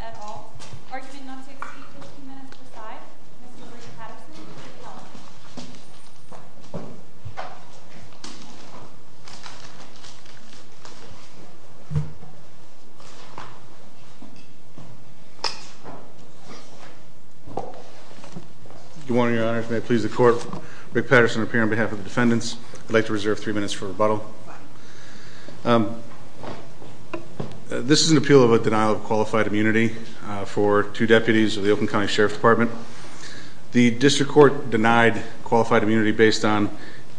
et al. Arguing not to exceed 15 minutes per side, Mr. Rick Patterson, Rick Hellman. Your Honor, if it may please the court, Rick Patterson here on behalf of the defendants. I'd like to reserve three minutes for rebuttal. This is an appeal of a denial of qualified immunity for two deputies of the Oakland County Sheriff's Department. The district court denied qualified immunity based on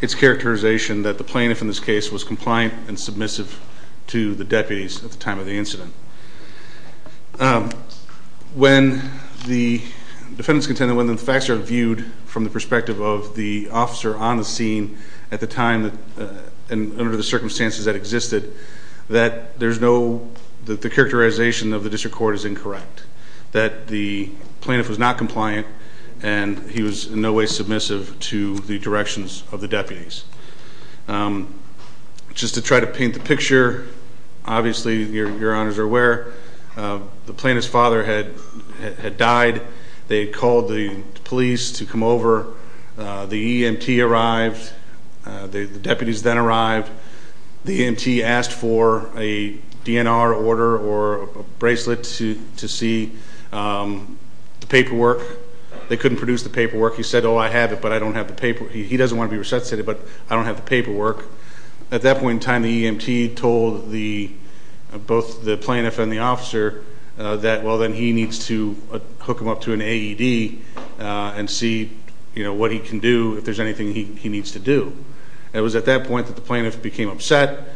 its characterization that the plaintiff in this case was compliant and submissive to the deputies at the time of the incident. When the defendants contended, when the facts are viewed from the perspective of the officer on the scene at the time and under the circumstances that existed, that there's no, that the characterization of the district court is incorrect. That the plaintiff was not compliant and he was in no way submissive to the directions of the deputies. Just to try to paint the picture, obviously your honors are aware, the plaintiff's father had died. They had called the police to come over. The EMT arrived. The deputies then arrived. The EMT asked for a DNR order or a bracelet to see the paperwork. They couldn't produce the paperwork. He said, oh, I have it, but I don't have the paperwork. He doesn't want to be resuscitated, but I don't have the paperwork. At that point in time, the EMT told both the plaintiff and the officer that, well, then he needs to hook him up to an AED and see what he can do, if there's anything he needs to do. It was at that point that the plaintiff became upset,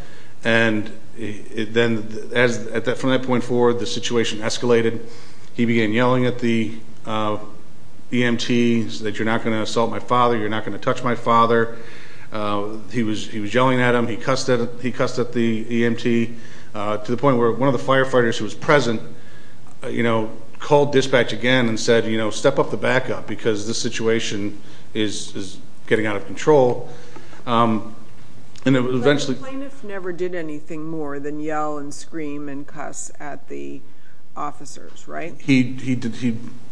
and then from that point forward, the situation escalated. He began yelling at the EMT that you're not going to assault my father. You're not going to touch my father. He was yelling at him. He cussed at the EMT to the point where one of the firefighters who was present called dispatch again and said, step up the backup because this situation is getting out of control. But the plaintiff never did anything more than yell and scream and cuss at the officers, right? He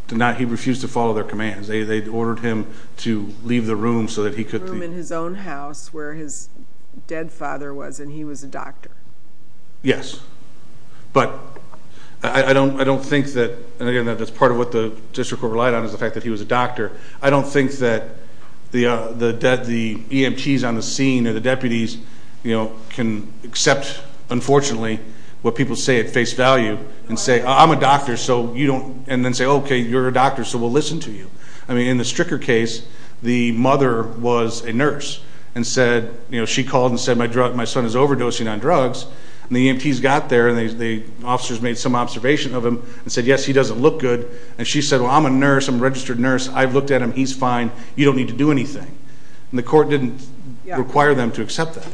refused to follow their commands. They ordered him to leave the room so that he could... The room in his own house where his dead father was, and he was a doctor. Yes, but I don't think that... And again, that's part of what the district court relied on is the fact that he was a doctor. I don't think that the EMTs on the scene or the deputies can accept, unfortunately, what people say at face value and say, I'm a doctor, and then say, okay, you're a doctor, so we'll listen to you. In the Stricker case, the mother was a nurse and she called and said, my son is overdosing on drugs, and the EMTs got there and the officers made some observation of him and said, yes, he doesn't look good. And she said, well, I'm a nurse. I'm a registered nurse. I've looked at him. He's fine. You don't need to do anything. And the court didn't require them to accept that.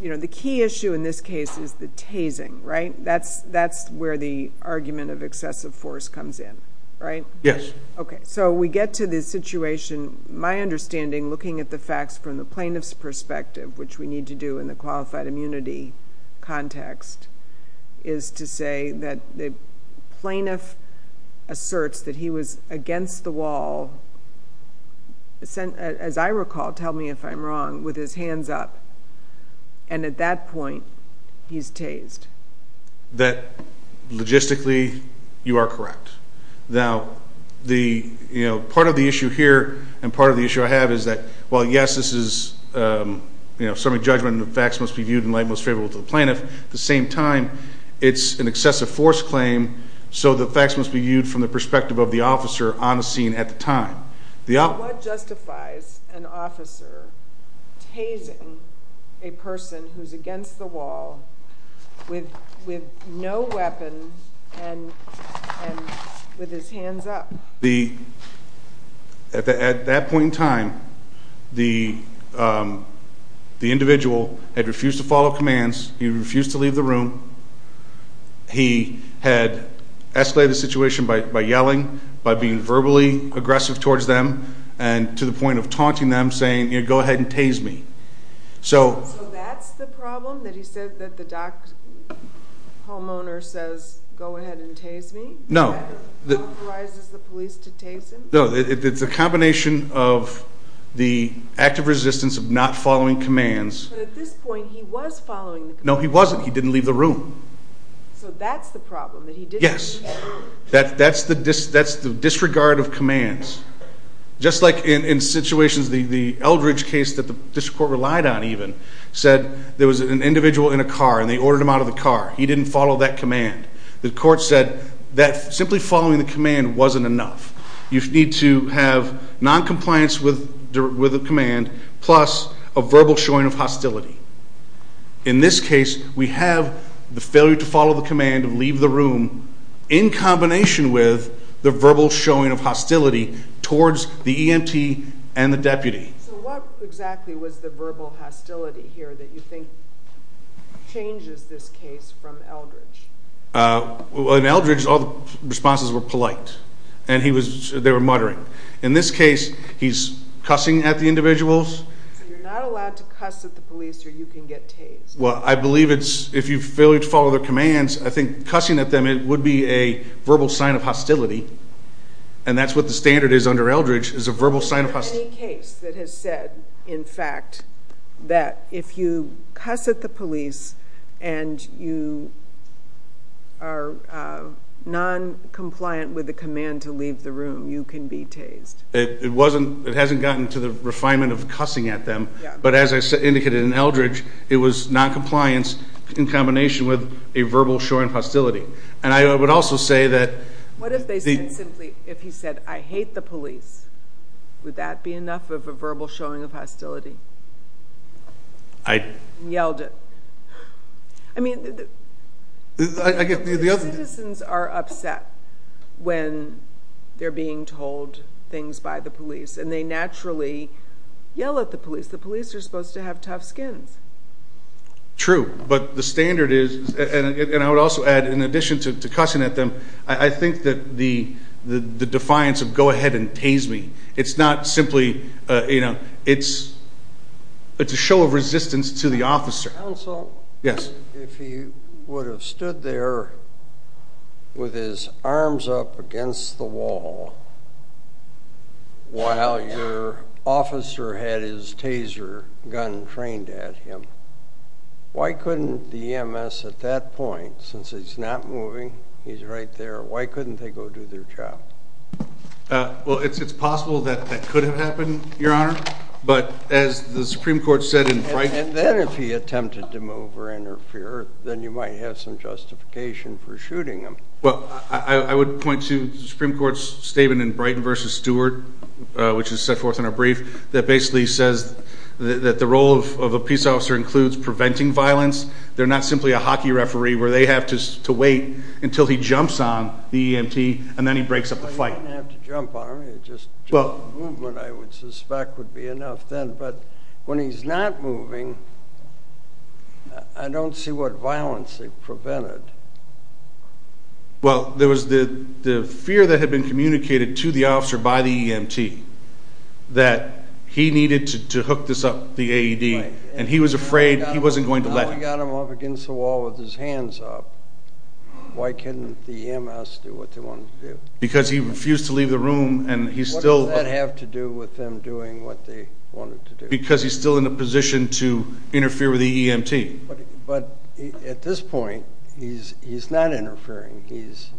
The key issue in this case is the tasing, right? That's where the argument of excessive force comes in, right? Yes. Okay, so we get to this situation. My understanding, looking at the facts from the plaintiff's perspective, which we need to do in the qualified immunity context, is to say that the plaintiff asserts that he was against the wall, as I recall, tell me if I'm wrong, with his hands up, and at that point, he's tased. Logistically, you are correct. Now, the, you know, part of the issue here and part of the issue I have is that, well, yes, this is, you know, summary judgment and the facts must be viewed in light most favorable to the plaintiff. At the same time, it's an excessive force claim, so the facts must be viewed from the perspective of the officer on the scene at the time. What justifies an officer tasing a person who's against the wall with no weapon and with his hands up? At that point in time, the individual had refused to follow commands. He refused to leave the room. He had escalated the situation by yelling, by being verbally aggressive towards them, and to the point of taunting them, saying, you know, go ahead and tase me. So that's the problem, that he said that the docked homeowner says, go ahead and tase me? No. That authorizes the police to tase him? No, it's a combination of the active resistance of not following commands. But at this point, he was following the commands. No, he wasn't. He didn't leave the room. So that's the problem, that he didn't leave the room? Yes. That's the disregard of commands. Just like in situations, the Eldridge case that the district court relied on, even, said there was an individual in a car and they ordered him out of the car. He didn't follow that command. The court said that simply following the command wasn't enough. You need to have noncompliance with the command, plus a verbal showing of hostility. In this case, we have the failure to follow the command of leave the room in combination with the verbal showing of hostility towards the EMT and the deputy. So what exactly was the verbal hostility here that you think changes this case from Eldridge? In Eldridge, all the responses were polite. And they were muttering. In this case, he's cussing at the individuals. So you're not allowed to cuss at the police or you can get tased? Well, I believe if you fail to follow their commands, I think cussing at them would be a verbal sign of hostility. And that's what the standard is under Eldridge, is a verbal sign of hostility. Is there any case that has said, in fact, that if you cuss at the police and you are noncompliant with the command to leave the room, you can be tased? It hasn't gotten to the refinement of cussing at them. But as I indicated in Eldridge, it was noncompliance in combination with a verbal showing of hostility. And I would also say that... What if they said simply, if he said, I hate the police, would that be enough of a verbal showing of hostility? I... And yelled it. I mean, the citizens are upset when they're being told things by the police. And they naturally yell at the police. The police are supposed to have tough skins. True. But the standard is, and I would also add, in addition to cussing at them, I think that the defiance of go ahead and tase me, it's not simply, you know, it's a show of resistance to the officer. Counsel? Yes. If he would have stood there with his arms up against the wall while your officer had his taser gun trained at him, why couldn't the EMS at that point, since he's not moving, he's right there, why couldn't they go do their job? Well, it's possible that that could have happened, Your Honor. But as the Supreme Court said in Brighton... And then if he attempted to move or interfere, then you might have some justification for shooting him. Well, I would point to the Supreme Court's statement in Brighton v. Stewart, which is set forth in our brief, that basically says that the role of a peace officer includes preventing violence. They're not simply a hockey referee where they have to wait until he jumps on the EMT and then he breaks up the fight. He doesn't have to jump on him. Just movement, I would suspect, would be enough then. But when he's not moving, I don't see what violence they prevented. Well, there was the fear that had been communicated to the officer by the EMT that he needed to hook this up, the AED, and he was afraid he wasn't going to let him. If he got him up against the wall with his hands up, why couldn't the EMS do what they wanted to do? Because he refused to leave the room, and he still... What does that have to do with them doing what they wanted to do? Because he's still in a position to interfere with the EMT. But at this point, he's not interfering. He's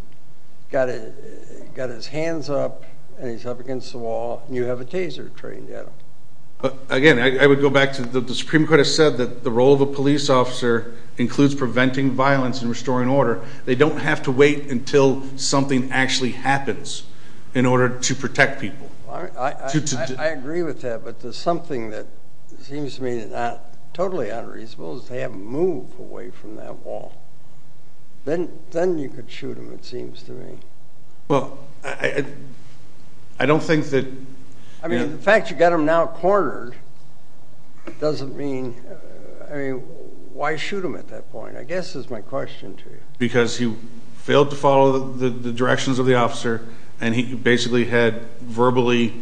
got his hands up, and he's up against the wall, and you have a taser trained at him. Again, I would go back to what the Supreme Court has said, that the role of a police officer includes preventing violence and restoring order. They don't have to wait until something actually happens in order to protect people. I agree with that, but there's something that seems to me that's totally unreasonable is they haven't moved away from that wall. Then you could shoot him, it seems to me. Well, I don't think that... I mean, the fact you got him now cornered doesn't mean... Why shoot him at that point, I guess is my question to you. Because he failed to follow the directions of the officer, and he basically had verbally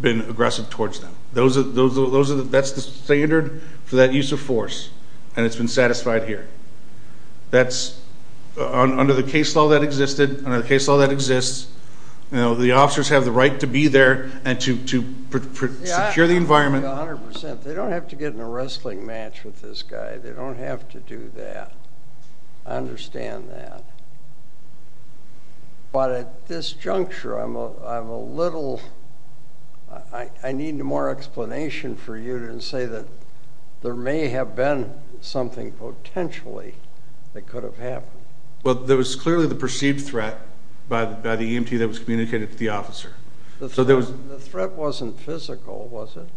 been aggressive towards them. That's the standard for that use of force, and it's been satisfied here. That's under the case law that existed, under the case law that exists. The officers have the right to be there and to secure the environment. I agree 100%. They don't have to get in a wrestling match with this guy. They don't have to do that. I understand that. But at this juncture, I'm a little... I need more explanation for you than to say that there may have been something potentially that could have happened. Well, there was clearly the perceived threat by the EMT that was communicated to the officer. The threat wasn't physical, was it?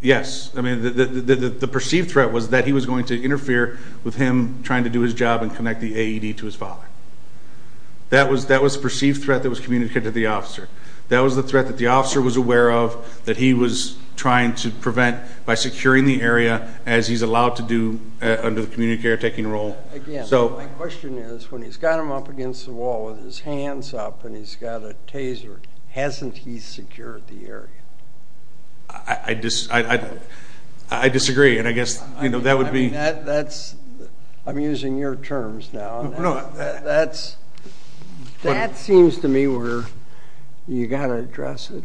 Yes. I mean, the perceived threat was that he was going to interfere with him trying to do his job and connect the AED to his father. That was the perceived threat that was communicated to the officer. That was the threat that the officer was aware of, that he was trying to prevent by securing the area, as he's allowed to do under the community care taking role. My question is, when he's got him up against the wall with his hands up and he's got a taser, hasn't he secured the area? I disagree, and I guess that would be... I'm using your terms now. That seems to me where you've got to address it.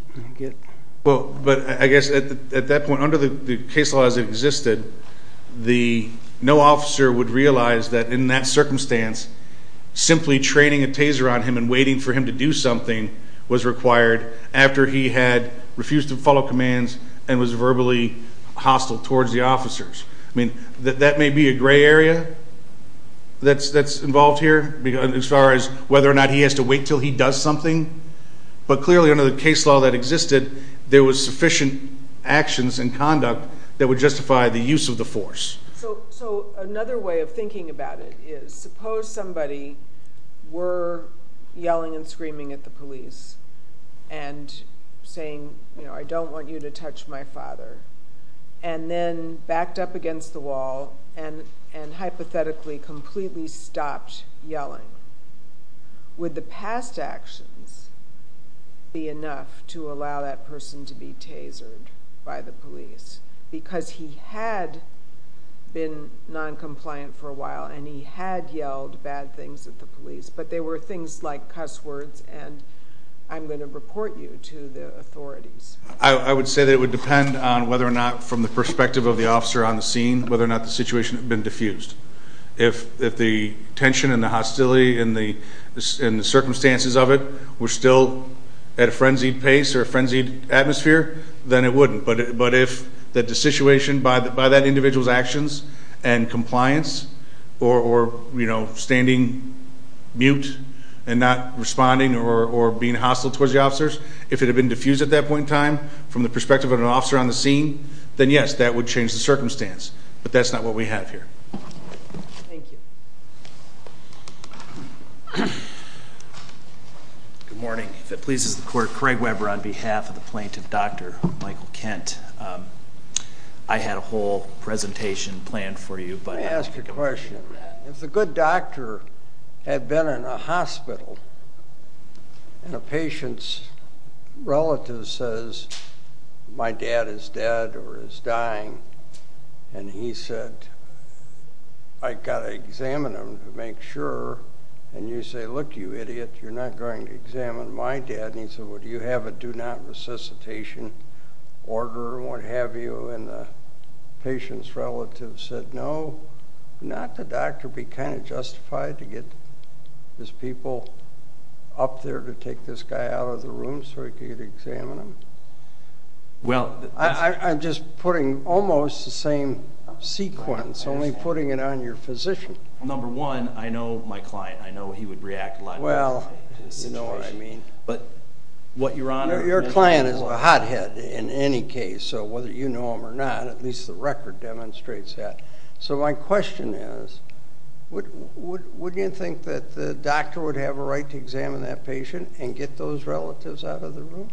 Well, but I guess at that point, under the case laws that existed, no officer would realize that in that circumstance, simply training a taser on him and waiting for him to do something was required after he had refused to follow commands and was verbally hostile towards the officers. I mean, that may be a gray area that's involved here as far as whether or not he has to wait until he does something, but clearly under the case law that existed, there was sufficient actions and conduct that would justify the use of the force. So another way of thinking about it is, suppose somebody were yelling and screaming at the police and saying, you know, I don't want you to touch my father, and then backed up against the wall and hypothetically completely stopped yelling. Would the past actions be enough to allow that person to be tasered by the police? Because he had been noncompliant for a while and he had yelled bad things at the police, but they were things like cuss words, and I'm going to report you to the authorities. I would say that it would depend on whether or not, from the perspective of the officer on the scene, whether or not the situation had been diffused. If the tension and the hostility and the circumstances of it were still at a frenzied pace or a frenzied atmosphere, then it wouldn't, but if the situation by that individual's actions and compliance or, you know, standing mute and not responding or being hostile towards the officers, if it had been diffused at that point in time from the perspective of an officer on the scene, then, yes, that would change the circumstance, but that's not what we have here. Thank you. Good morning. If it pleases the Court, Craig Weber on behalf of the plaintiff, Dr. Michael Kent. I had a whole presentation planned for you. Let me ask you a question. If the good doctor had been in a hospital and a patient's relative says, my dad is dead or is dying, and he said, I've got to examine him to make sure, and you say, look, you idiot, you're not going to examine my dad, and he said, well, do you have a do not resuscitation order or what have you, and the patient's relative said, no, not the doctor be kind of justified to get his people up there to take this guy out of the room so he could examine him? I'm just putting almost the same sequence, only putting it on your physician. Well, number one, I know my client. I know he would react a lot differently to the situation. Well, you know what I mean. Your client is a hothead in any case, so whether you know him or not, at least the record demonstrates that. So my question is, would you think that the doctor would have a right to examine that patient and get those relatives out of the room?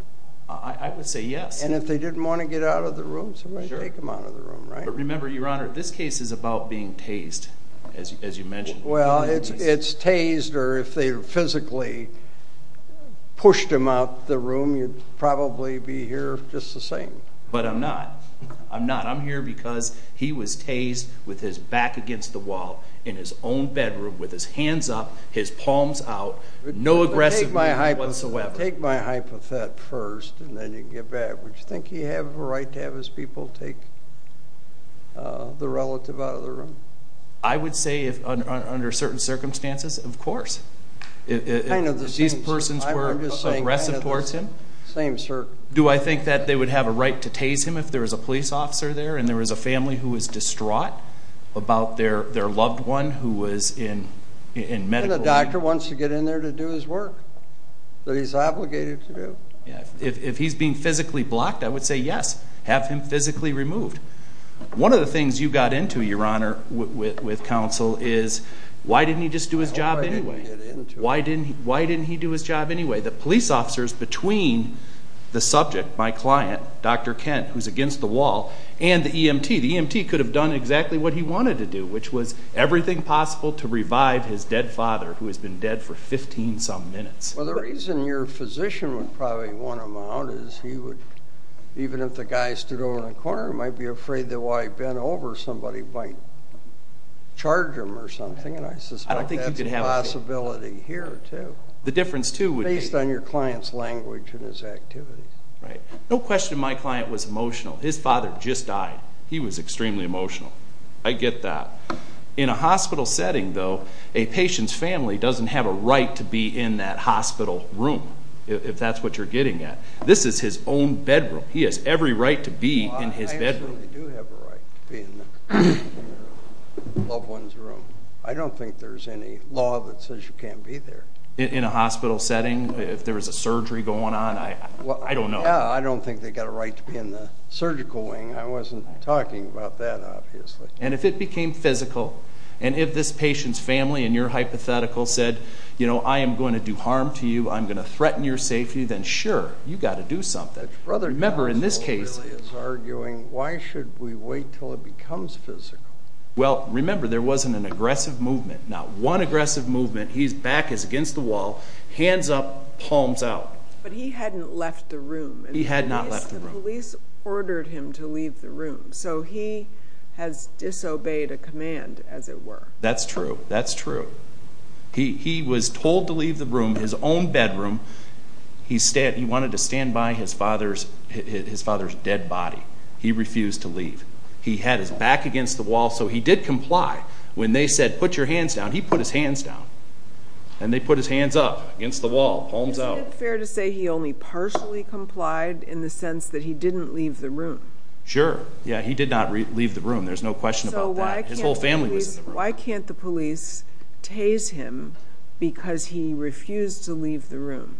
I would say yes. And if they didn't want to get out of the room, somebody would take them out of the room, right? But remember, Your Honor, this case is about being tased, as you mentioned. You'd probably be here just the same. But I'm not. I'm not. I'm here because he was tased with his back against the wall in his own bedroom, with his hands up, his palms out, no aggressive movement whatsoever. Take my hypothet first, and then you can get back. Would you think he'd have a right to have his people take the relative out of the room? I would say under certain circumstances, of course. If these persons were aggressive towards him, do I think that they would have a right to tase him if there was a police officer there and there was a family who was distraught about their loved one who was in medical need? And the doctor wants to get in there to do his work that he's obligated to do. If he's being physically blocked, I would say yes, have him physically removed. One of the things you got into, Your Honor, with counsel is, why didn't he just do his job anyway? Why didn't he do his job anyway? The police officers between the subject, my client, Dr. Kent, who's against the wall, and the EMT. The EMT could have done exactly what he wanted to do, which was everything possible to revive his dead father, who has been dead for 15-some minutes. Well, the reason your physician would probably want him out is he would, even if the guy stood over in the corner, might be afraid that while he bent over, somebody might charge him or something, and I suspect that's a possibility here, too. The difference, too, would be... Based on your client's language and his activities. Right. No question my client was emotional. His father just died. He was extremely emotional. I get that. In a hospital setting, though, a patient's family doesn't have a right to be in that hospital room, if that's what you're getting at. This is his own bedroom. He has every right to be in his bedroom. Well, I absolutely do have a right to be in the loved one's room. I don't think there's any law that says you can't be there. In a hospital setting, if there was a surgery going on, I don't know. Yeah, I don't think they've got a right to be in the surgical wing. I wasn't talking about that, obviously. And if it became physical, and if this patient's family, in your hypothetical, said, you know, I am going to do harm to you, I'm going to threaten your safety, then sure, you've got to do something. Remember, in this case, why should we wait until it becomes physical? Well, remember, there wasn't an aggressive movement. Not one aggressive movement. His back is against the wall, hands up, palms out. But he hadn't left the room. He had not left the room. The police ordered him to leave the room. So he has disobeyed a command, as it were. That's true, that's true. He was told to leave the room, his own bedroom. He wanted to stand by his father's dead body. He refused to leave. He had his back against the wall, so he did comply. When they said, put your hands down, he put his hands down. And they put his hands up against the wall, palms out. Isn't it fair to say he only partially complied in the sense that he didn't leave the room? Sure. Yeah, he did not leave the room. There's no question about that. His whole family was in the room. Why can't the police tase him because he refused to leave the room?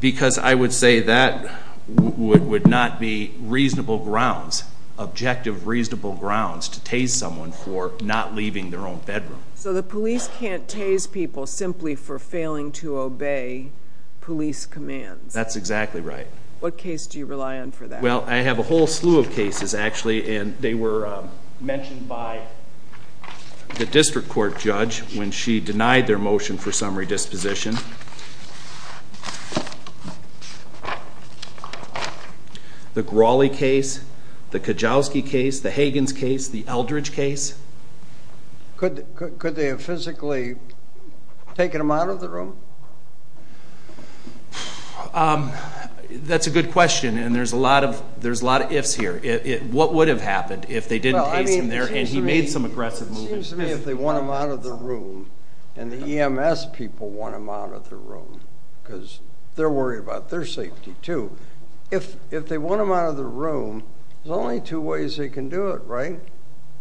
Because I would say that would not be reasonable grounds, objective, reasonable grounds to tase someone for not leaving their own bedroom. So the police can't tase people simply for failing to obey police commands. That's exactly right. What case do you rely on for that? Well, I have a whole slew of cases, actually. And they were mentioned by the district court judge when she denied their motion for summary disposition. The Grawley case, the Kajowski case, the Hagins case, the Eldridge case. Could they have physically taken him out of the room? That's a good question, and there's a lot of ifs here. What would have happened if they didn't tase him there and he made some aggressive movements? It seems to me if they want him out of the room and the EMS people want him out of the room because they're worried about their safety, too. If they want him out of the room, there's only two ways they can do it, right?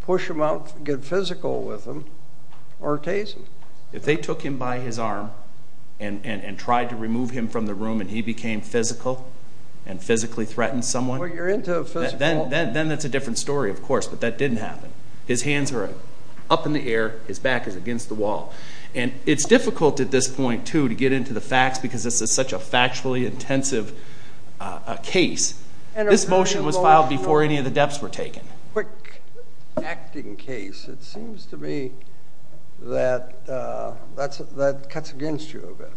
Push him out, get physical with him, or tase him. If they took him by his arm and tried to remove him from the room and he became physical and physically threatened someone, then that's a different story, of course. But that didn't happen. His hands are up in the air. His back is against the wall. And it's difficult at this point, too, to get into the facts because this is such a factually intensive case. This motion was filed before any of the depths were taken. Quick acting case. It seems to me that that cuts against you a bit.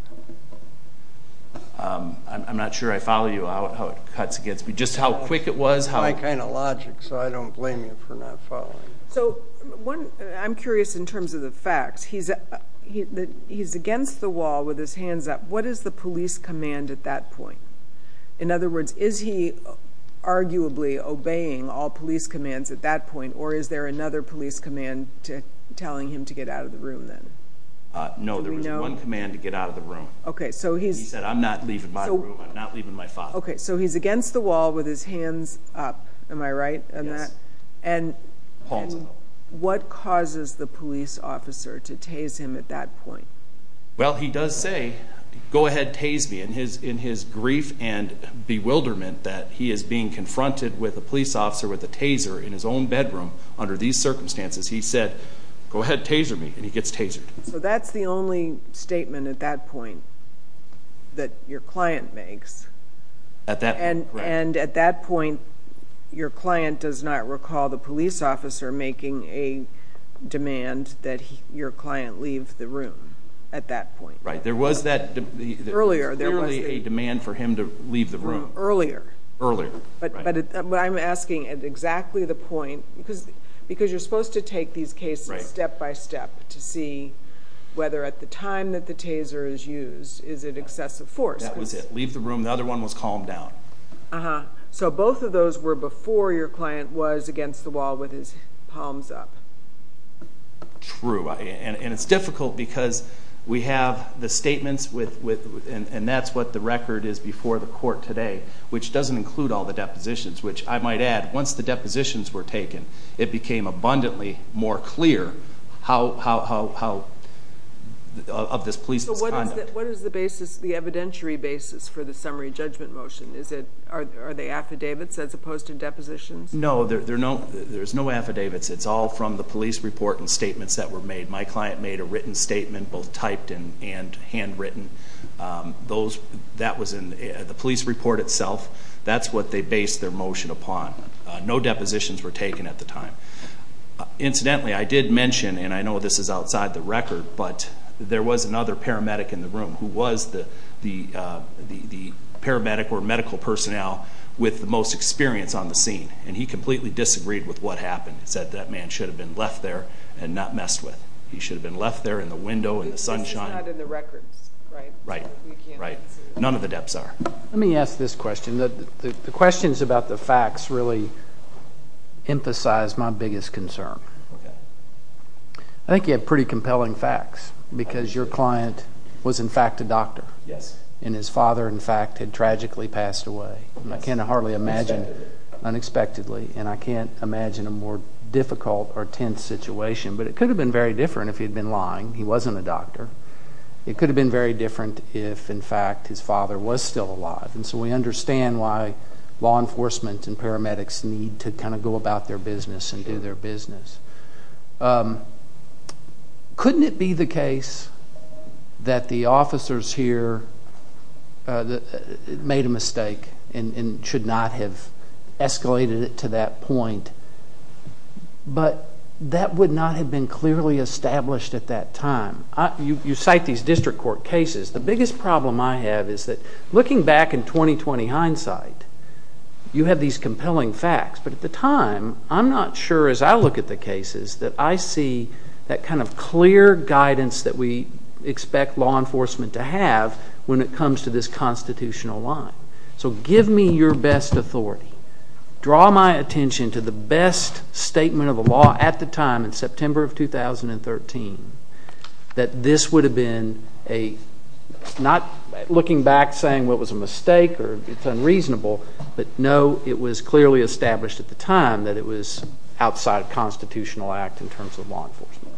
I'm not sure I follow you on how it cuts against me, just how quick it was. My kind of logic, so I don't blame you for not following. I'm curious in terms of the facts. He's against the wall with his hands up. What is the police command at that point? In other words, is he arguably obeying all police commands at that point or is there another police command telling him to get out of the room then? No, there was one command to get out of the room. He said, I'm not leaving my room. I'm not leaving my father. So he's against the wall with his hands up. Am I right on that? Yes. And what causes the police officer to tase him at that point? Well, he does say, go ahead, tase me. And in his grief and bewilderment that he is being confronted with a police officer with a taser in his own bedroom under these circumstances, he said, go ahead, taser me. And he gets tasered. So that's the only statement at that point that your client makes. At that point, correct. And at that point, your client does not recall the police officer making a demand that your client leave the room at that point. Right. There was that earlier. There was clearly a demand for him to leave the room. Earlier. Earlier, right. But I'm asking at exactly the point, because you're supposed to take these cases step by step to see whether at the time that the taser is used, is it excessive force. That was it. Leave the room. The other one was calm down. Uh-huh. So both of those were before your client was against the wall with his palms up. True. And it's difficult because we have the statements, and that's what the record is before the court today, which doesn't include all the depositions, which I might add, once the depositions were taken, it became abundantly more clear of this police's conduct. So what is the evidentiary basis for the summary judgment motion? Are they affidavits as opposed to depositions? No, there's no affidavits. It's all from the police report and statements that were made. My client made a written statement, both typed and handwritten. That was in the police report itself. That's what they based their motion upon. No depositions were taken at the time. Incidentally, I did mention, and I know this is outside the record, but there was another paramedic in the room who was the paramedic or medical personnel with the most experience on the scene, and he completely disagreed with what happened. He said that man should have been left there and not messed with. He should have been left there in the window in the sunshine. That's not in the records, right? Right. None of the deps are. Let me ask this question. The questions about the facts really emphasize my biggest concern. I think you have pretty compelling facts because your client was, in fact, a doctor. Yes. And his father, in fact, had tragically passed away. Yes. Unexpectedly. Unexpectedly. And I can't imagine a more difficult or tense situation, but it could have been very different if he had been lying. He wasn't a doctor. It could have been very different if, in fact, his father was still alive, and so we understand why law enforcement and paramedics need to kind of go about their business and do their business. Couldn't it be the case that the officers here made a mistake and should not have escalated it to that point, but that would not have been clearly established at that time? You cite these district court cases. The biggest problem I have is that looking back in 20-20 hindsight, you have these compelling facts, but at the time I'm not sure as I look at the cases that I see that kind of clear guidance that we expect law enforcement to have when it comes to this constitutional line. So give me your best authority. Draw my attention to the best statement of the law at the time, in September of 2013, that this would have been a not looking back saying it was a mistake or it's unreasonable, but no, it was clearly established at the time that it was outside of constitutional act in terms of law enforcement.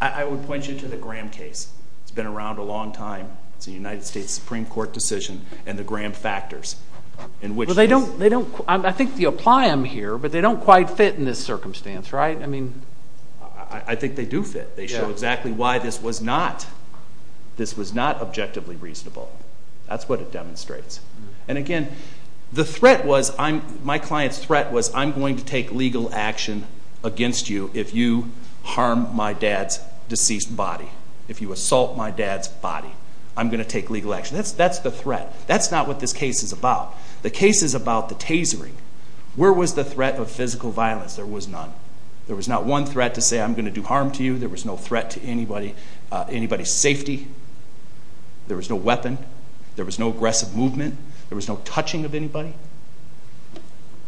I would point you to the Graham case. It's been around a long time. It's a United States Supreme Court decision, and the Graham factors. I think you apply them here, but they don't quite fit in this circumstance, right? I think they do fit. They show exactly why this was not objectively reasonable. That's what it demonstrates. And again, my client's threat was I'm going to take legal action against you if you harm my dad's deceased body, if you assault my dad's body. I'm going to take legal action. That's the threat. That's not what this case is about. The case is about the tasering. Where was the threat of physical violence? There was none. There was not one threat to say I'm going to do harm to you. There was no threat to anybody's safety. There was no weapon. There was no aggressive movement. There was no touching of anybody.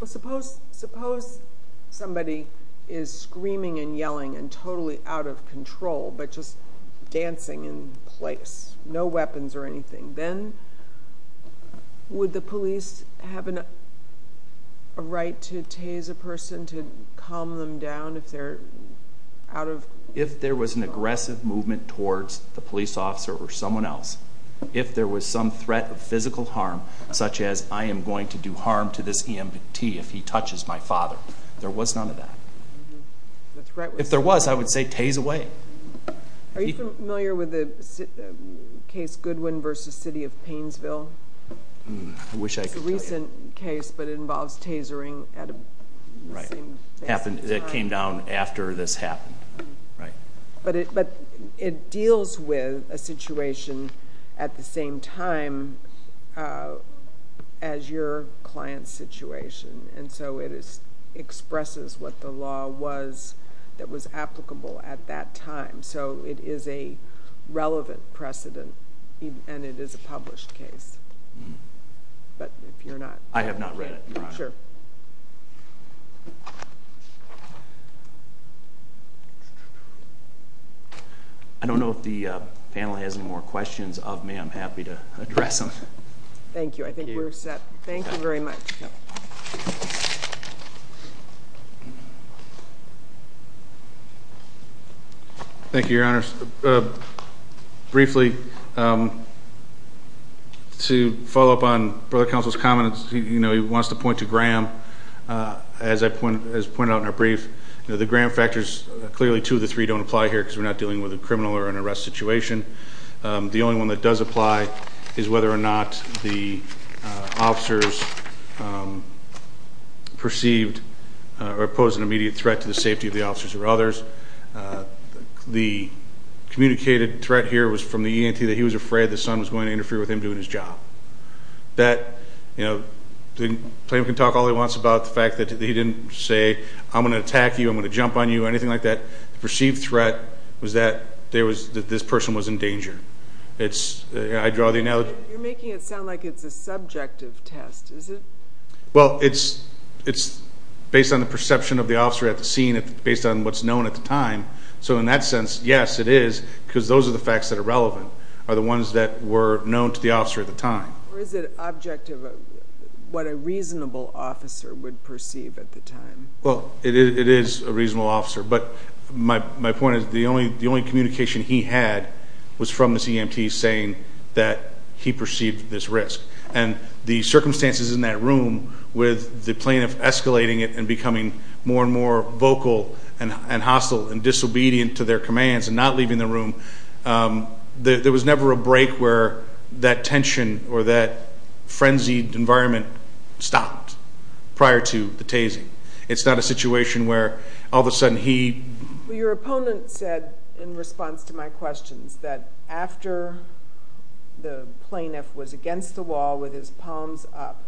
Suppose somebody is screaming and yelling and totally out of control but just dancing in place, no weapons or anything. Then would the police have a right to tase a person, to calm them down if they're out of control? If there was an aggressive movement towards the police officer or someone else, if there was some threat of physical harm, such as I am going to do harm to this EMT if he touches my father, there was none of that. If there was, I would say tase away. Are you familiar with the case Goodwin v. City of Painesville? I wish I could tell you. It's a recent case but it involves tasering at the same time. It came down after this happened. But it deals with a situation at the same time as your client's situation, and so it expresses what the law was that was applicable at that time. It is a relevant precedent and it is a published case. But if you're not... I have not read it, Your Honor. Sure. I don't know if the panel has any more questions of me. I'm happy to address them. Thank you. I think we're set. Thank you very much. Thank you. Thank you, Your Honor. Briefly, to follow up on Brother Counsel's comments, he wants to point to Graham, as pointed out in our brief. The Graham factors, clearly two of the three don't apply here because we're not dealing with a criminal or an arrest situation. The only one that does apply is whether or not the officers perceived or posed an immediate threat to the safety of the officers or others. The communicated threat here was from the ENT that he was afraid the son was going to interfere with him doing his job. The plaintiff can talk all he wants about the fact that he didn't say, I'm going to attack you, I'm going to jump on you, anything like that. The perceived threat was that this person was in danger. I draw the analogy. You're making it sound like it's a subjective test, is it? Well, it's based on the perception of the officer at the scene, based on what's known at the time. So in that sense, yes, it is because those are the facts that are relevant, are the ones that were known to the officer at the time. Or is it objective, what a reasonable officer would perceive at the time? Well, it is a reasonable officer. But my point is the only communication he had was from this EMT saying that he perceived this risk. And the circumstances in that room with the plaintiff escalating it and becoming more and more vocal and hostile and disobedient to their commands and not leaving the room, there was never a break where that tension It's not a situation where all of a sudden he... Your opponent said, in response to my questions, that after the plaintiff was against the wall with his palms up,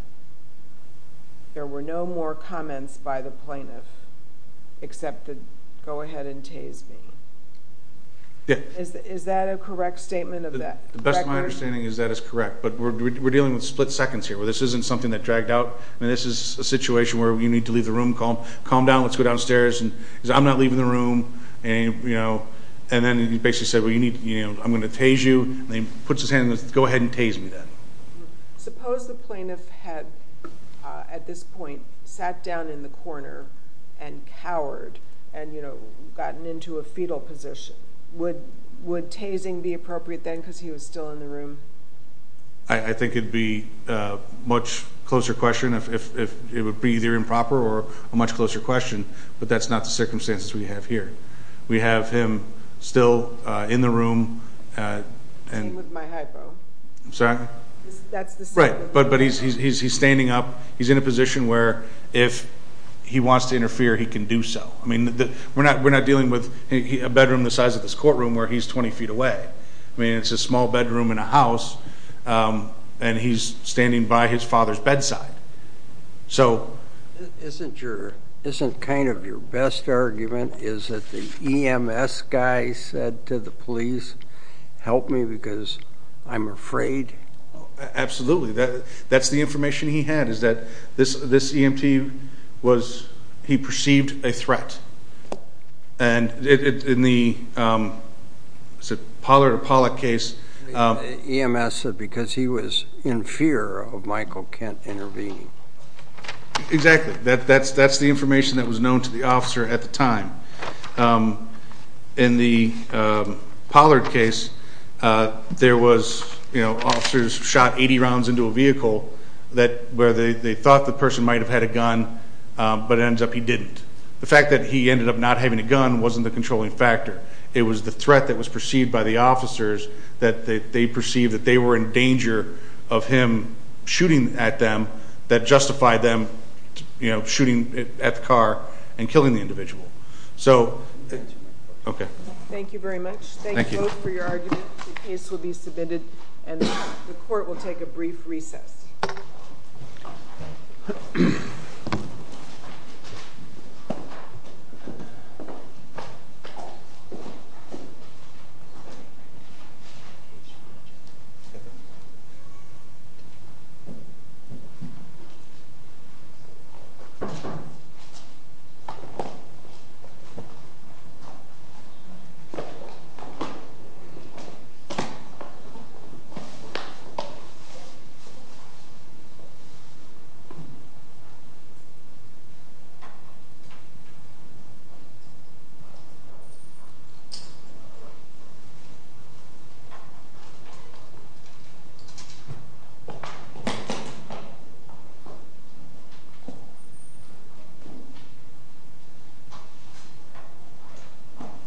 there were no more comments by the plaintiff except to go ahead and tase me. Is that a correct statement of that? The best of my understanding is that is correct. But we're dealing with split seconds here. This isn't something that dragged out. This is a situation where you need to leave the room, calm down, let's go downstairs. He said, I'm not leaving the room. And then he basically said, I'm going to tase you. And he puts his hand and goes, go ahead and tase me then. Suppose the plaintiff had, at this point, sat down in the corner and cowered and gotten into a fetal position. I think it would be a much closer question. It would be either improper or a much closer question. But that's not the circumstances we have here. We have him still in the room. Same with my hypo. I'm sorry? That's the same. Right. But he's standing up. He's in a position where if he wants to interfere, he can do so. I mean, we're not dealing with a bedroom the size of this courtroom where he's 20 feet away. I mean, it's a small bedroom in a house, and he's standing by his father's bedside. Isn't kind of your best argument is that the EMS guy said to the police, help me because I'm afraid? Absolutely. That's the information he had is that this EMT, he perceived a threat. And in the Pollard case. EMS said because he was in fear of Michael Kent intervening. Exactly. That's the information that was known to the officer at the time. In the Pollard case, there was officers shot 80 rounds into a vehicle where they thought the person might have had a gun, but it ends up he didn't. The fact that he ended up not having a gun wasn't the controlling factor. It was the threat that was perceived by the officers that they perceived that they were in danger of him shooting at them that justified them shooting at the car and killing the individual. So, okay. Thank you very much. Thank you. Thank you both for your argument. The case will be submitted, and the court will take a brief recess. Thank you. Thank you.